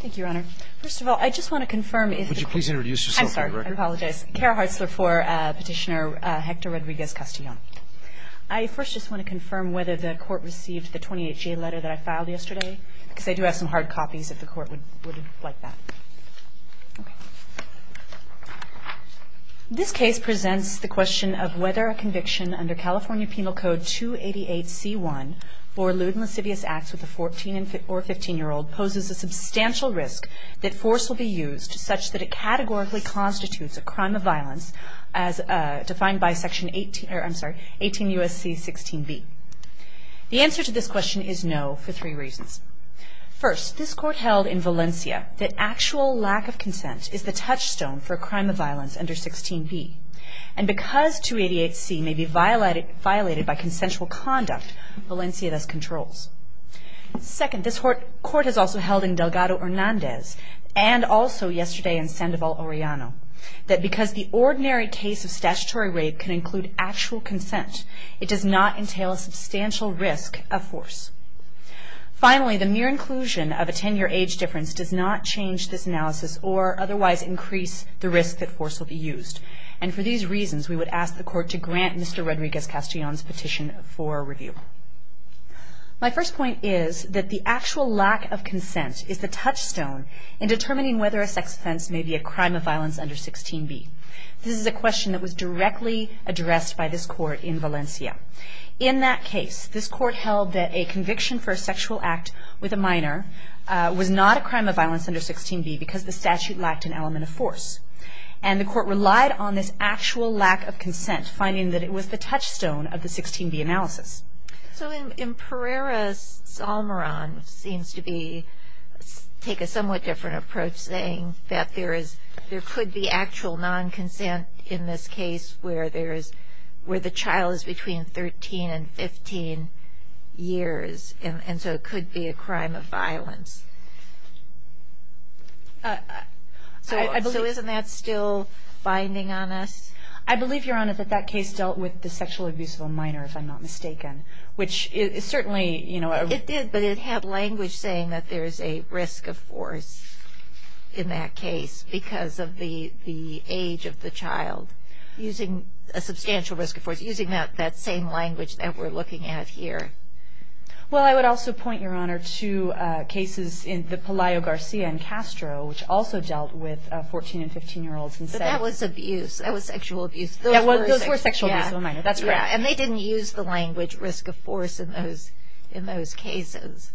Thank you, Your Honor. First of all, I just want to confirm if the court- Would you please introduce yourself for the record? I'm sorry, I apologize. Kara Hartzler for Petitioner Hector Rodriguez-Castellon. I first just want to confirm whether the court received the 28-G letter that I filed yesterday, because I do have some hard copies if the court would like that. This case presents the question of whether a conviction under California Penal Code 288C1 for lewd and lascivious acts with a 14 or 15-year-old poses a substantial risk that force will be used such that it categorically constitutes a crime of violence as defined by section 18, or I'm sorry, 18 U.S.C. 16B. The answer to this question is no for three reasons. First, this court held in Valencia that actual lack of consent is the touchstone for a crime of violence under 16B. And because 288C may be violated by consensual conduct, Valencia thus controls. Second, this court has also held in Delgado Hernandez and also yesterday in Sandoval Orellano that because the ordinary case of statutory rape can include actual consent, it does not entail a substantial risk of force. Finally, the mere inclusion of a 10-year age difference does not change this analysis or otherwise increase the risk that force will be used. And for these reasons, we would ask the court to grant Mr. Rodriguez-Castellon's petition for review. My first point is that the actual lack of consent is the touchstone in determining whether a sex offense may be a crime of violence under 16B. This is a question that was directly addressed by this court in Valencia. In that case, this court held that a conviction for a sexual act with a minor was not a crime of violence under 16B because the statute lacked an element of force. And the court relied on this actual lack of consent, finding that it was the touchstone of the 16B analysis. So in Pereira-Salmaran, seems to be, take a somewhat different approach saying that there could be actual non-consent in this case where there is, where the child is between 13 and 15 years. And so it could be a crime of violence. So isn't that still binding on us? I believe, Your Honor, that that case dealt with the sexual abuse of a minor, if I'm not mistaken, which is certainly, you know- It did, but it had language saying that there's a risk of force in that case because of the age of the child, using a substantial risk of force, using that same language that we're looking at here. Well, I would also point, Your Honor, to cases in the Pelayo-Garcia and Castro, which also dealt with 14 and 15-year-olds. But that was abuse, that was sexual abuse. Those were sexual abuse of a minor, that's right. And they didn't use the language risk of force in those cases.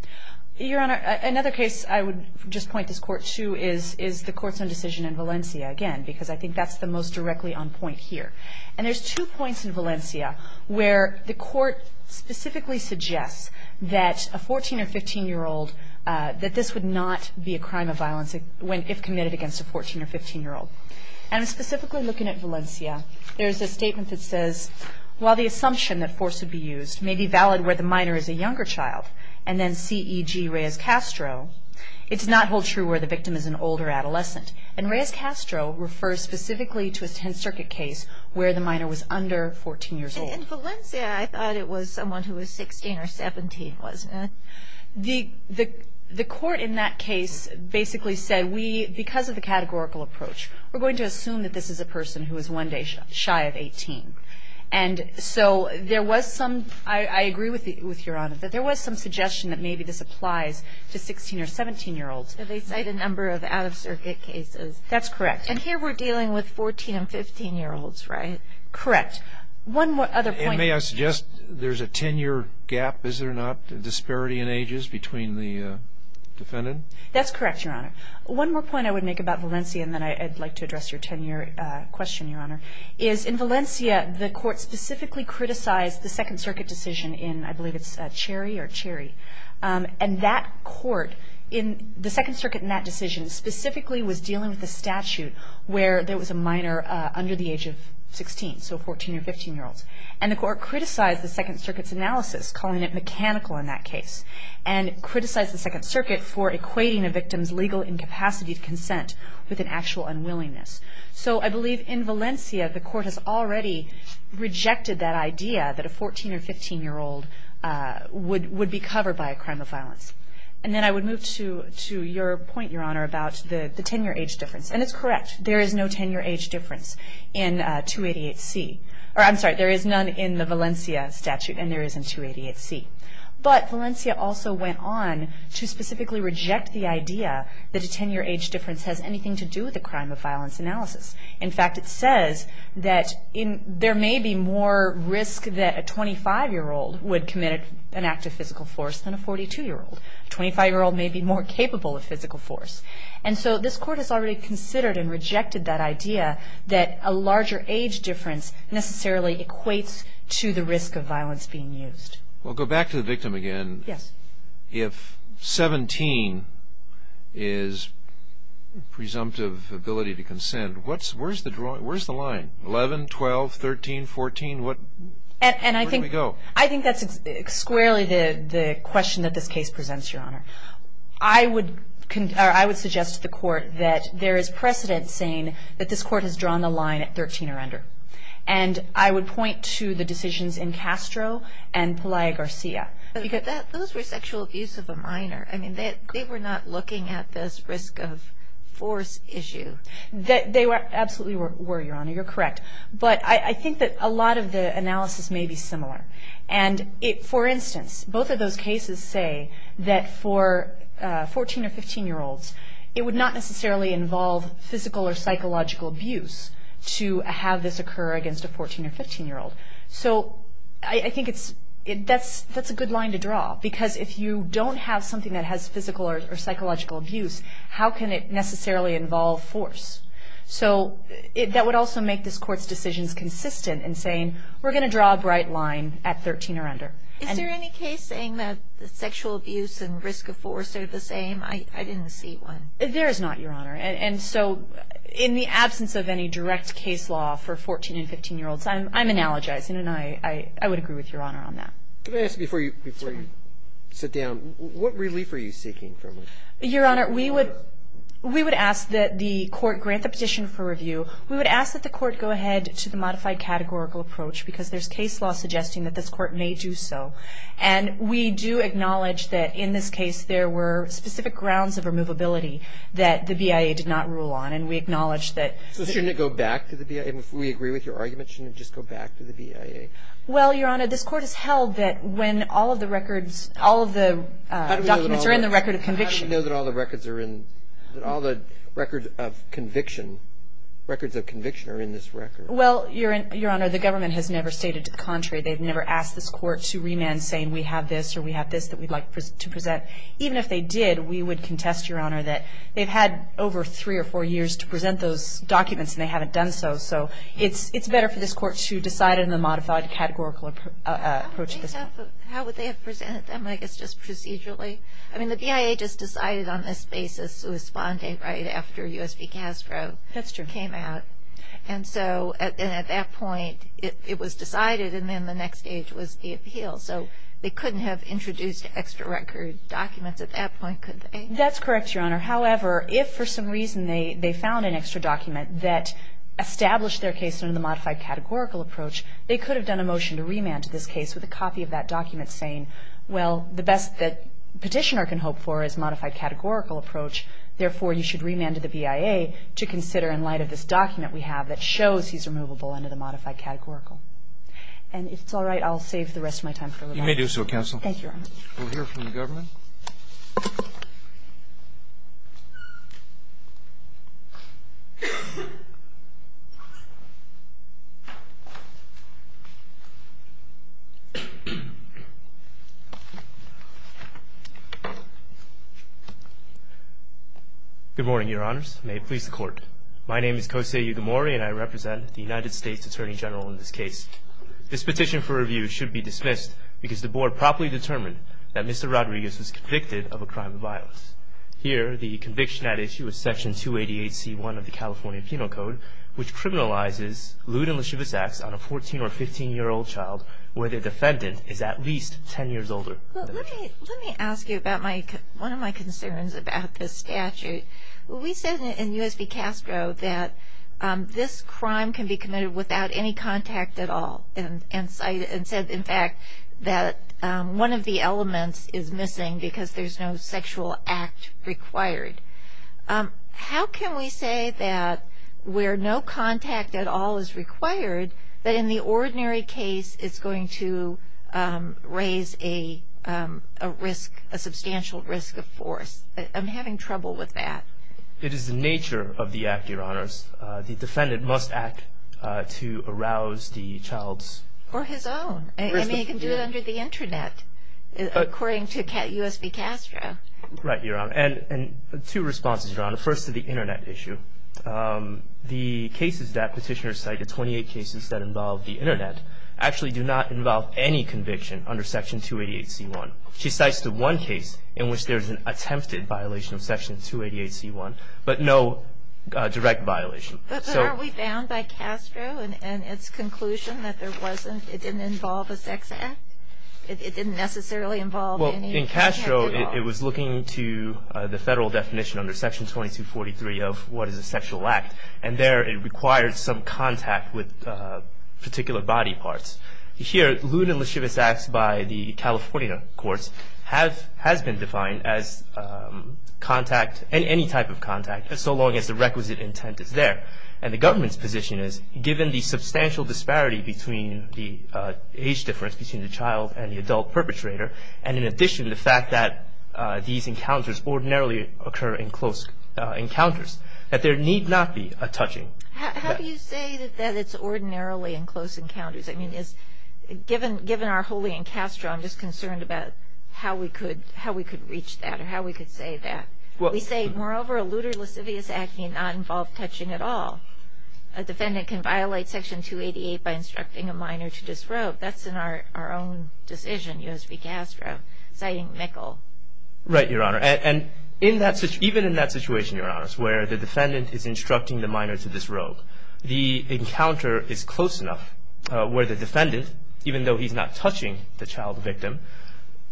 Your Honor, another case I would just point this court to is the Courts on Decision in Valencia, again, because I think that's the most directly on point here. And there's two points in Valencia where the court specifically suggests that this would not be a crime of violence if committed against a 14 or 15-year-old. And specifically looking at Valencia, there's a statement that says, while the assumption that force would be used may be valid where the minor is a younger child, and then C.E.G. Reyes-Castro, it does not hold true where the victim is an older adolescent. And Reyes-Castro refers specifically to a 10th Circuit case where the minor was under 14 years old. And in Valencia, I thought it was someone who was 16 or 17, wasn't it? The court in that case basically said, we, because of the categorical approach, we're going to assume that this is a person who is one day shy of 18. And so there was some, I agree with Your Honor, that there was some suggestion that maybe this applies to 16 or 17-year-olds. But they cite a number of out-of-Circuit cases. That's correct. And here we're dealing with 14 and 15-year-olds, right? Correct. One other point. And may I suggest there's a 10-year gap, is there not? A disparity in ages between the defendant? That's correct, Your Honor. One more point I would make about Valencia, and then I'd like to address your 10-year question, Your Honor, is in Valencia, the court specifically criticized the 2nd Circuit decision in, I believe it's Cherry or Cherry. And that court, the 2nd Circuit in that decision specifically was dealing with a statute where there was a minor under the age of 16, so 14 or 15-year-olds. And the court criticized the 2nd Circuit's analysis, calling it mechanical in that case, and criticized the 2nd Circuit for equating a victim's legal incapacity to consent with an actual unwillingness. So I believe in Valencia, the court has already rejected that idea that a 14 or 15-year-old would be covered by a crime of violence. And then I would move to your point, Your Honor, about the 10-year age difference. And it's correct. There is no 10-year age difference in 288C. Or I'm sorry, there is none in the Valencia statute, and there isn't 288C. But Valencia also went on to specifically reject the idea that a 10-year age difference has anything to do with a crime of violence analysis. In fact, it says that there may be more risk that a 25-year-old would commit an act of physical force than a 42-year-old. A 25-year-old may be more capable of physical force. And so this court has already considered and rejected that idea that a larger age difference necessarily equates to the risk of violence being used. Well, go back to the victim again. Yes. If 17 is presumptive ability to consent, where's the line? 11, 12, 13, 14, where do we go? I think that's squarely the question that this case presents, Your Honor. I would suggest to the court that there is precedent saying that this court has drawn the line at 13 or under. And I would point to the decisions in Castro and Pelaya-Garcia. Those were sexual abuse of a minor. I mean, they were not looking at this risk of force issue. They absolutely were, Your Honor. You're correct. But I think that a lot of the analysis may be similar. And for instance, both of those cases say that for 14 or 15-year-olds, it would not necessarily involve physical or psychological abuse to have this occur against a 14 or 15-year-old. So I think that's a good line to draw because if you don't have something that has physical or psychological abuse, how can it necessarily involve force? So that would also make this court's decisions consistent in saying we're going to draw a bright line at 13 or under. Is there any case saying that the sexual abuse I didn't see one. There is not, Your Honor. And so, in the absence of any direct case law for 14 and 15-year-olds, I'm analogizing and I would agree with Your Honor on that. Can I ask before you sit down, what relief are you seeking from us? Your Honor, we would ask that the court grant the petition for review. We would ask that the court go ahead to the modified categorical approach because there's case law suggesting that this court may do so. And we do acknowledge that in this case, there were specific grounds of removability that the BIA did not rule on. And we acknowledge that. So shouldn't it go back to the BIA? We agree with your argument. Shouldn't it just go back to the BIA? Well, Your Honor, this court has held that when all of the records, all of the documents are in the record of conviction. How do we know that all the records are in, that all the records of conviction, records of conviction are in this record? Well, Your Honor, the government has never stated to the contrary. They've never asked this court to remand, saying we have this or we have this that we'd like to present. Even if they did, we would contest, Your Honor, that they've had over three or four years to present those documents and they haven't done so. So it's better for this court to decide in the modified categorical approach. How would they have presented them, I guess, just procedurally? I mean, the BIA just decided on this basis to respond right after U.S. v. Castro came out. And so at that point, it was decided and then the next stage was the appeal. So they couldn't have introduced extra record documents at that point, could they? That's correct, Your Honor. However, if for some reason they found an extra document that established their case under the modified categorical approach, they could have done a motion to remand to this case with a copy of that document saying, well, the best that petitioner can hope for is modified categorical approach. Therefore, you should remand to the BIA to consider in light of this document we have that shows he's removable under the modified categorical. And if it's all right, I'll save the rest of my time for rebuttal. You may do so, Counsel. Thank you, Your Honor. We'll hear from the government. Good morning, Your Honors. May it please the Court. My name is Kosei Ugamori and I represent the United States Attorney General in this case. This petition for review should be dismissed because the Board properly determined that Mr. Rodriguez was convicted of a crime of violence. Here, the conviction at issue is Section 288C1 of the California Penal Code, which criminalizes lewd and lascivious acts on a 14 or 15-year-old child where the defendant is at least 10 years older. Well, let me ask you about one of my concerns about this statute. We said in U.S. v. Castro that this crime can be committed without any contact at all and said, in fact, that one of the elements is missing because there's no sexual act required. How can we say that where no contact at all is required, that in the ordinary case, it's going to raise a risk, a substantial risk of force? I'm having trouble with that. It is the nature of the act, Your Honors. The defendant must act to arouse the child's- For his own. I mean, he can do it under the internet, according to U.S. v. Castro. Right, Your Honor. And two responses, Your Honor. First, to the internet issue. The cases that petitioners cite, the 28 cases that involve the internet, actually do not involve any conviction under Section 288C1. She cites the one case in which there's an attempted violation of Section 288C1, but no direct violation. But aren't we bound by Castro and its conclusion that there wasn't, it didn't involve a sex act? It didn't necessarily involve any- Well, in Castro, it was looking to the federal definition under Section 2243 of what is a sexual act. And there, it requires some contact with particular body parts. Here, Loon and Lechewis acts by the California courts has been defined as contact, any type of contact, so long as the requisite intent is there. And the government's position is, given the substantial disparity between the age difference between the child and the adult perpetrator, and in addition, the fact that these encounters ordinarily occur in close encounters, that there need not be a touching- How do you say that it's ordinarily in close encounters? I mean, given our holy in Castro, I'm just concerned about how we could reach that, or how we could say that. We say, moreover, a lewd or lascivious act need not involve touching at all. A defendant can violate Section 288 by instructing a minor to disrobe. That's in our own decision, U.S. v. Castro, citing Mikkel. Right, Your Honor. And even in that situation, Your Honors, where the defendant is instructing the minor to disrobe, the encounter is close enough where the defendant, even though he's not touching the child victim,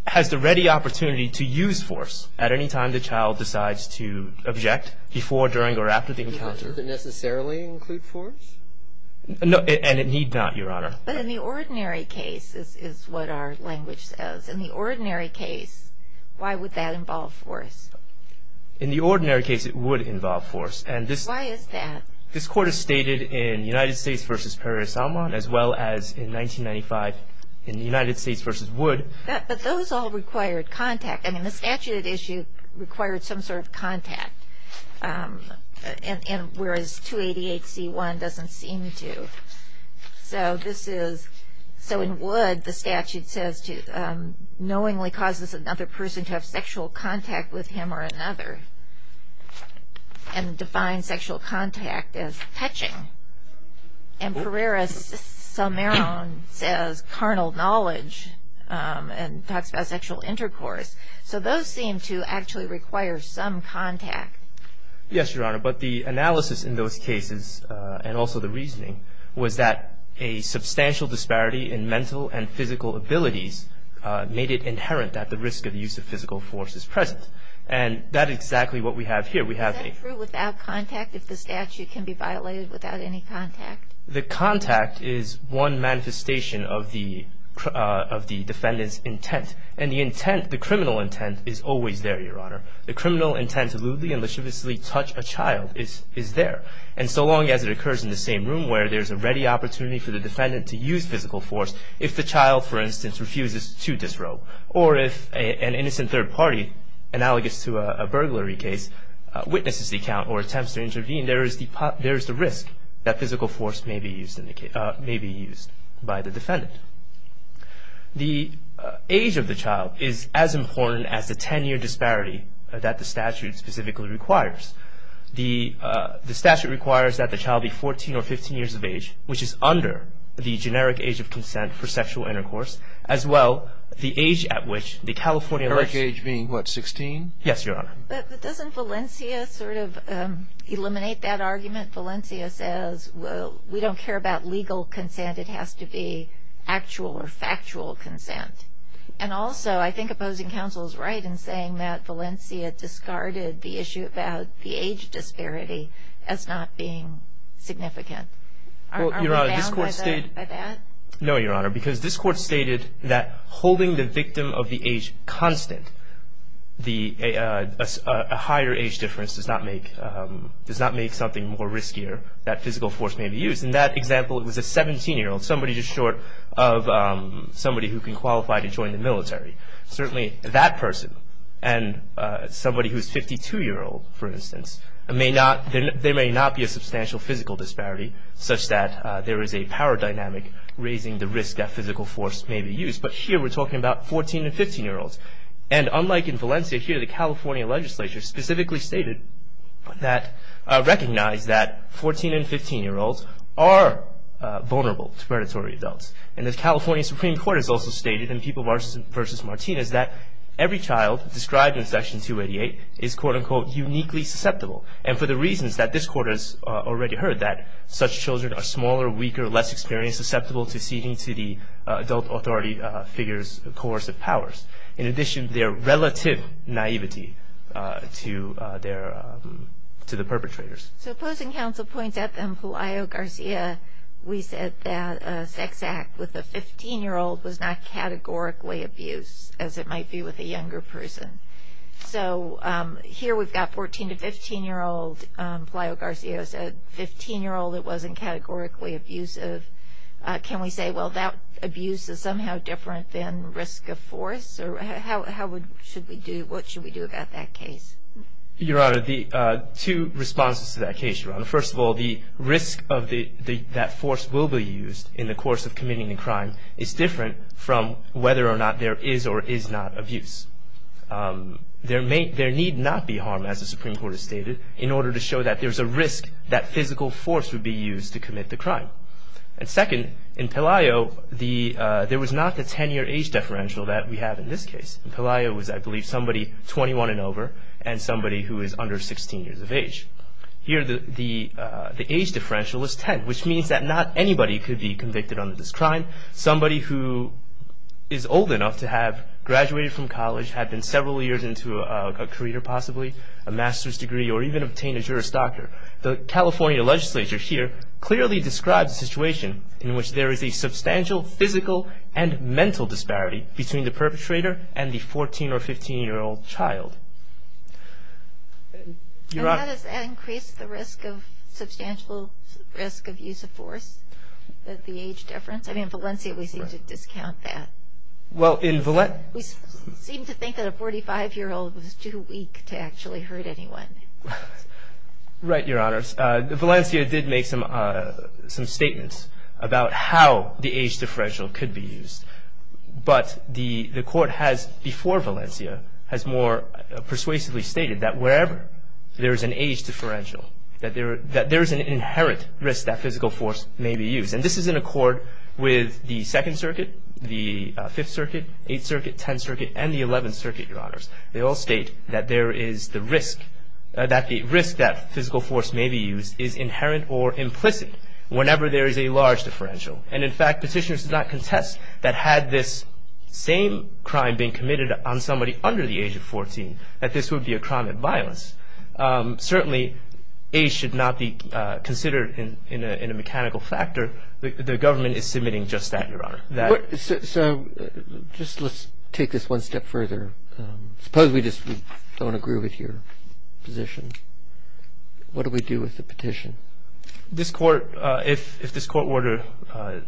has the ready opportunity to use force at any time the child decides to object, before, during, or after the encounter. Does it necessarily include force? No, and it need not, Your Honor. But in the ordinary case, is what our language says. In the ordinary case, why would that involve force? In the ordinary case, it would involve force. And this- Why is that? This court has stated in United States v. Perez Salmon, as well as in 1995, in the United States v. Wood- But those all required contact. I mean, the statute issue required some sort of contact. Whereas, 288c1 doesn't seem to. So, this is- So, in Wood, the statute says, knowingly causes another person to have sexual contact with him or another. And defines sexual contact as touching. And Perez Salmon says, carnal knowledge, and talks about sexual intercourse. So, those seem to actually require some contact. Yes, Your Honor. But the analysis in those cases, and also the reasoning, was that a substantial disparity in mental and physical abilities made it inherent that the risk of use of physical force is present. And that is exactly what we have here. We have a- Is that true without contact, if the statute can be violated without any contact? The contact is one manifestation of the defendant's intent. And the intent, the criminal intent, is always there, Your Honor. The criminal intent to lewdly and lascivously touch a child is there. And so long as it occurs in the same room, where there's a ready opportunity for the defendant to use physical force, if the child, for instance, refuses to disrobe, or if an innocent third party, analogous to a burglary case, witnesses the account or attempts to intervene, there is the risk that physical force may be used by the defendant. The age of the child is as important as the 10-year disparity that the statute specifically requires. The statute requires that the child be 14 or 15 years of age, which is under the generic age of consent for sexual intercourse, as well the age at which the California- The generic age being, what, 16? Yes, Your Honor. But doesn't Valencia sort of eliminate that argument? Valencia says, well, we don't care about legal consent, it has to be actual or factual consent. And also, I think opposing counsel's right in saying that Valencia discarded the issue about the age disparity as not being significant. Are we bound by that? No, Your Honor, because this court stated that holding the victim of the age constant, a higher age difference does not make something more riskier, that physical force may be used. In that example, it was a 17-year-old, somebody just short of somebody who can qualify to join the military. Certainly, that person and somebody who's 52-year-old, for instance, there may not be a substantial physical disparity such that there is a power dynamic raising the risk that physical force may be used. But here, we're talking about 14 and 15-year-olds. And unlike in Valencia, here, the California legislature specifically stated that, recognized that 14 and 15-year-olds are vulnerable to predatory adults. And the California Supreme Court has also stated in People v. Martinez that every child described in Section 288 is, quote-unquote, uniquely susceptible. And for the reasons that this court has already heard, that such children are smaller, weaker, less experienced, susceptible to ceding to the adult authority figure's coercive powers. In addition, their relative naivety to the perpetrators. So opposing counsel points out that in Palaio-Garcia, we said that a sex act with a 15-year-old was not categorically abuse, as it might be with a younger person. So here, we've got 14 to 15-year-old. Palaio-Garcia said 15-year-old, it wasn't categorically abusive. Can we say, well, that abuse is somehow different than risk of force? Or what should we do about that case? Your Honor, two responses to that case, Your Honor. First of all, the risk that force will be used in the course of committing a crime is different from whether or not there is or is not abuse. There need not be harm, as the Supreme Court has stated, in order to show that there's a risk that physical force would be used to commit the crime. And second, in Palaio, there was not the 10-year age differential that we have in this case. In Palaio, it was, I believe, somebody 21 and over, and somebody who is under 16 years of age. Here, the age differential is 10, which means that not anybody could be convicted on this crime. Somebody who is old enough to have graduated from college, had been several years into a career, possibly, a master's degree, or even obtained a Juris Doctor. The California legislature, here, clearly describes a situation in which there is a substantial physical and mental disparity between the perpetrator and the 14 or 15-year-old child. Your Honor- Does that increase the risk of, substantial risk of use of force, that the age difference? I mean, in Valencia, we seem to discount that. Well, in Valencia- We seem to think that a 45-year-old was too weak to actually hurt anyone. Right, Your Honors. Valencia did make some statements about how the age differential could be used. But the court has, before Valencia, has more persuasively stated that wherever there is an age differential, that there is an inherent risk that physical force may be used. And this is in accord with the Second Circuit, the Fifth Circuit, Eighth Circuit, Tenth Circuit, and the Eleventh Circuit, Your Honors. They all state that there is the risk that the risk that physical force may be used is inherent or implicit whenever there is a large differential. And in fact, petitioners did not contest that had this same crime been committed on somebody under the age of 14, that this would be a crime of violence. Certainly, age should not be considered in a mechanical factor. The government is submitting just that, Your Honor. So, just let's take this one step further. Suppose we just don't agree with your position. What do we do with the petition? This court, if this court were to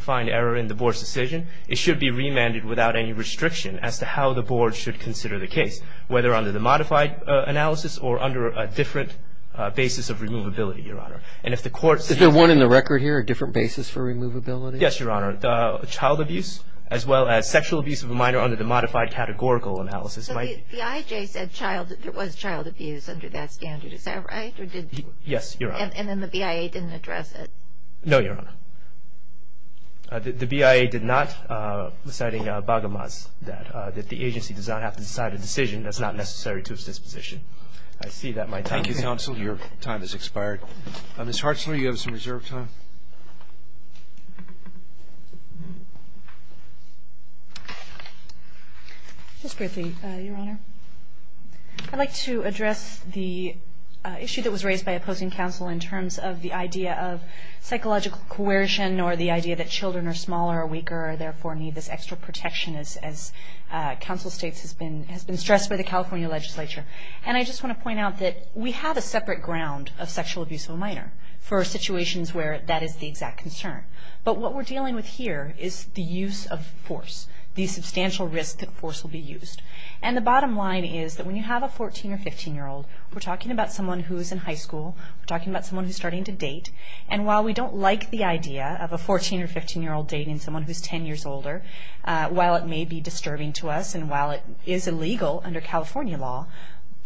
find error in the board's decision, it should be remanded without any restriction as to how the board should consider the case, whether under the modified analysis or under a different basis of removability, Your Honor. And if the court says- Is there one in the record here, a different basis for removability? Yes, Your Honor. Child abuse, as well as sexual abuse of a minor under the modified categorical analysis might- So, the IJ said there was child abuse under that standard. Is that right, or did- Yes, Your Honor. And then the BIA didn't address it? No, Your Honor. The BIA did not, citing Baghamad's, that the agency does not have to decide a decision that's not necessary to its disposition. I see that my time- Thank you, counsel. Your time has expired. Ms. Hartzler, you have some reserve time. Ms. Griffey, Your Honor. I'd like to address the issue that was raised by opposing counsel in terms of the idea of psychological coercion, or the idea that children are smaller or weaker, or therefore need this extra protection as counsel states has been stressed by the California legislature. And I just want to point out that we have a separate ground of sexual abuse of a minor for situations where that is the exact concern. But what we're dealing with here is the use of force, the substantial risk that force will be used. And the bottom line is that when you have a 14 or 15 year old, we're talking about someone who's in high school, we're talking about someone who's starting to date, and while we don't like the idea of a 14 or 15 year old dating someone who's 10 years older, while it may be disturbing to us, and while it is illegal under California law,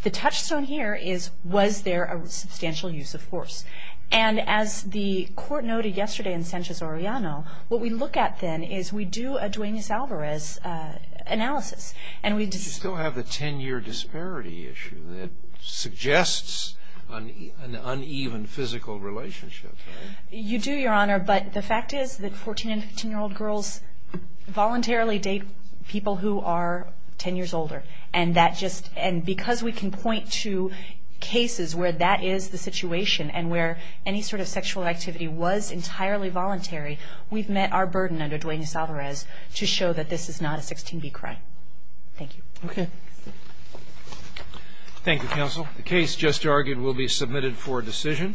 the touchstone here is, was there a substantial use of force? And as the court noted yesterday in Sanchez-Oriano, what we look at then is we do a Duenas-Alvarez analysis. And we just- You still have the 10 year disparity issue that suggests an uneven physical relationship, right? You do, Your Honor, but the fact is that 14 and 15 year old girls voluntarily date people who are 10 years older. And that just, and because we can point to cases where that is the situation, and where any sort of sexual activity was entirely voluntary, we've met our burden under Duenas-Alvarez to show that this is not a 16B crime. Thank you. Okay. Thank you, counsel. The case just argued will be submitted for decision.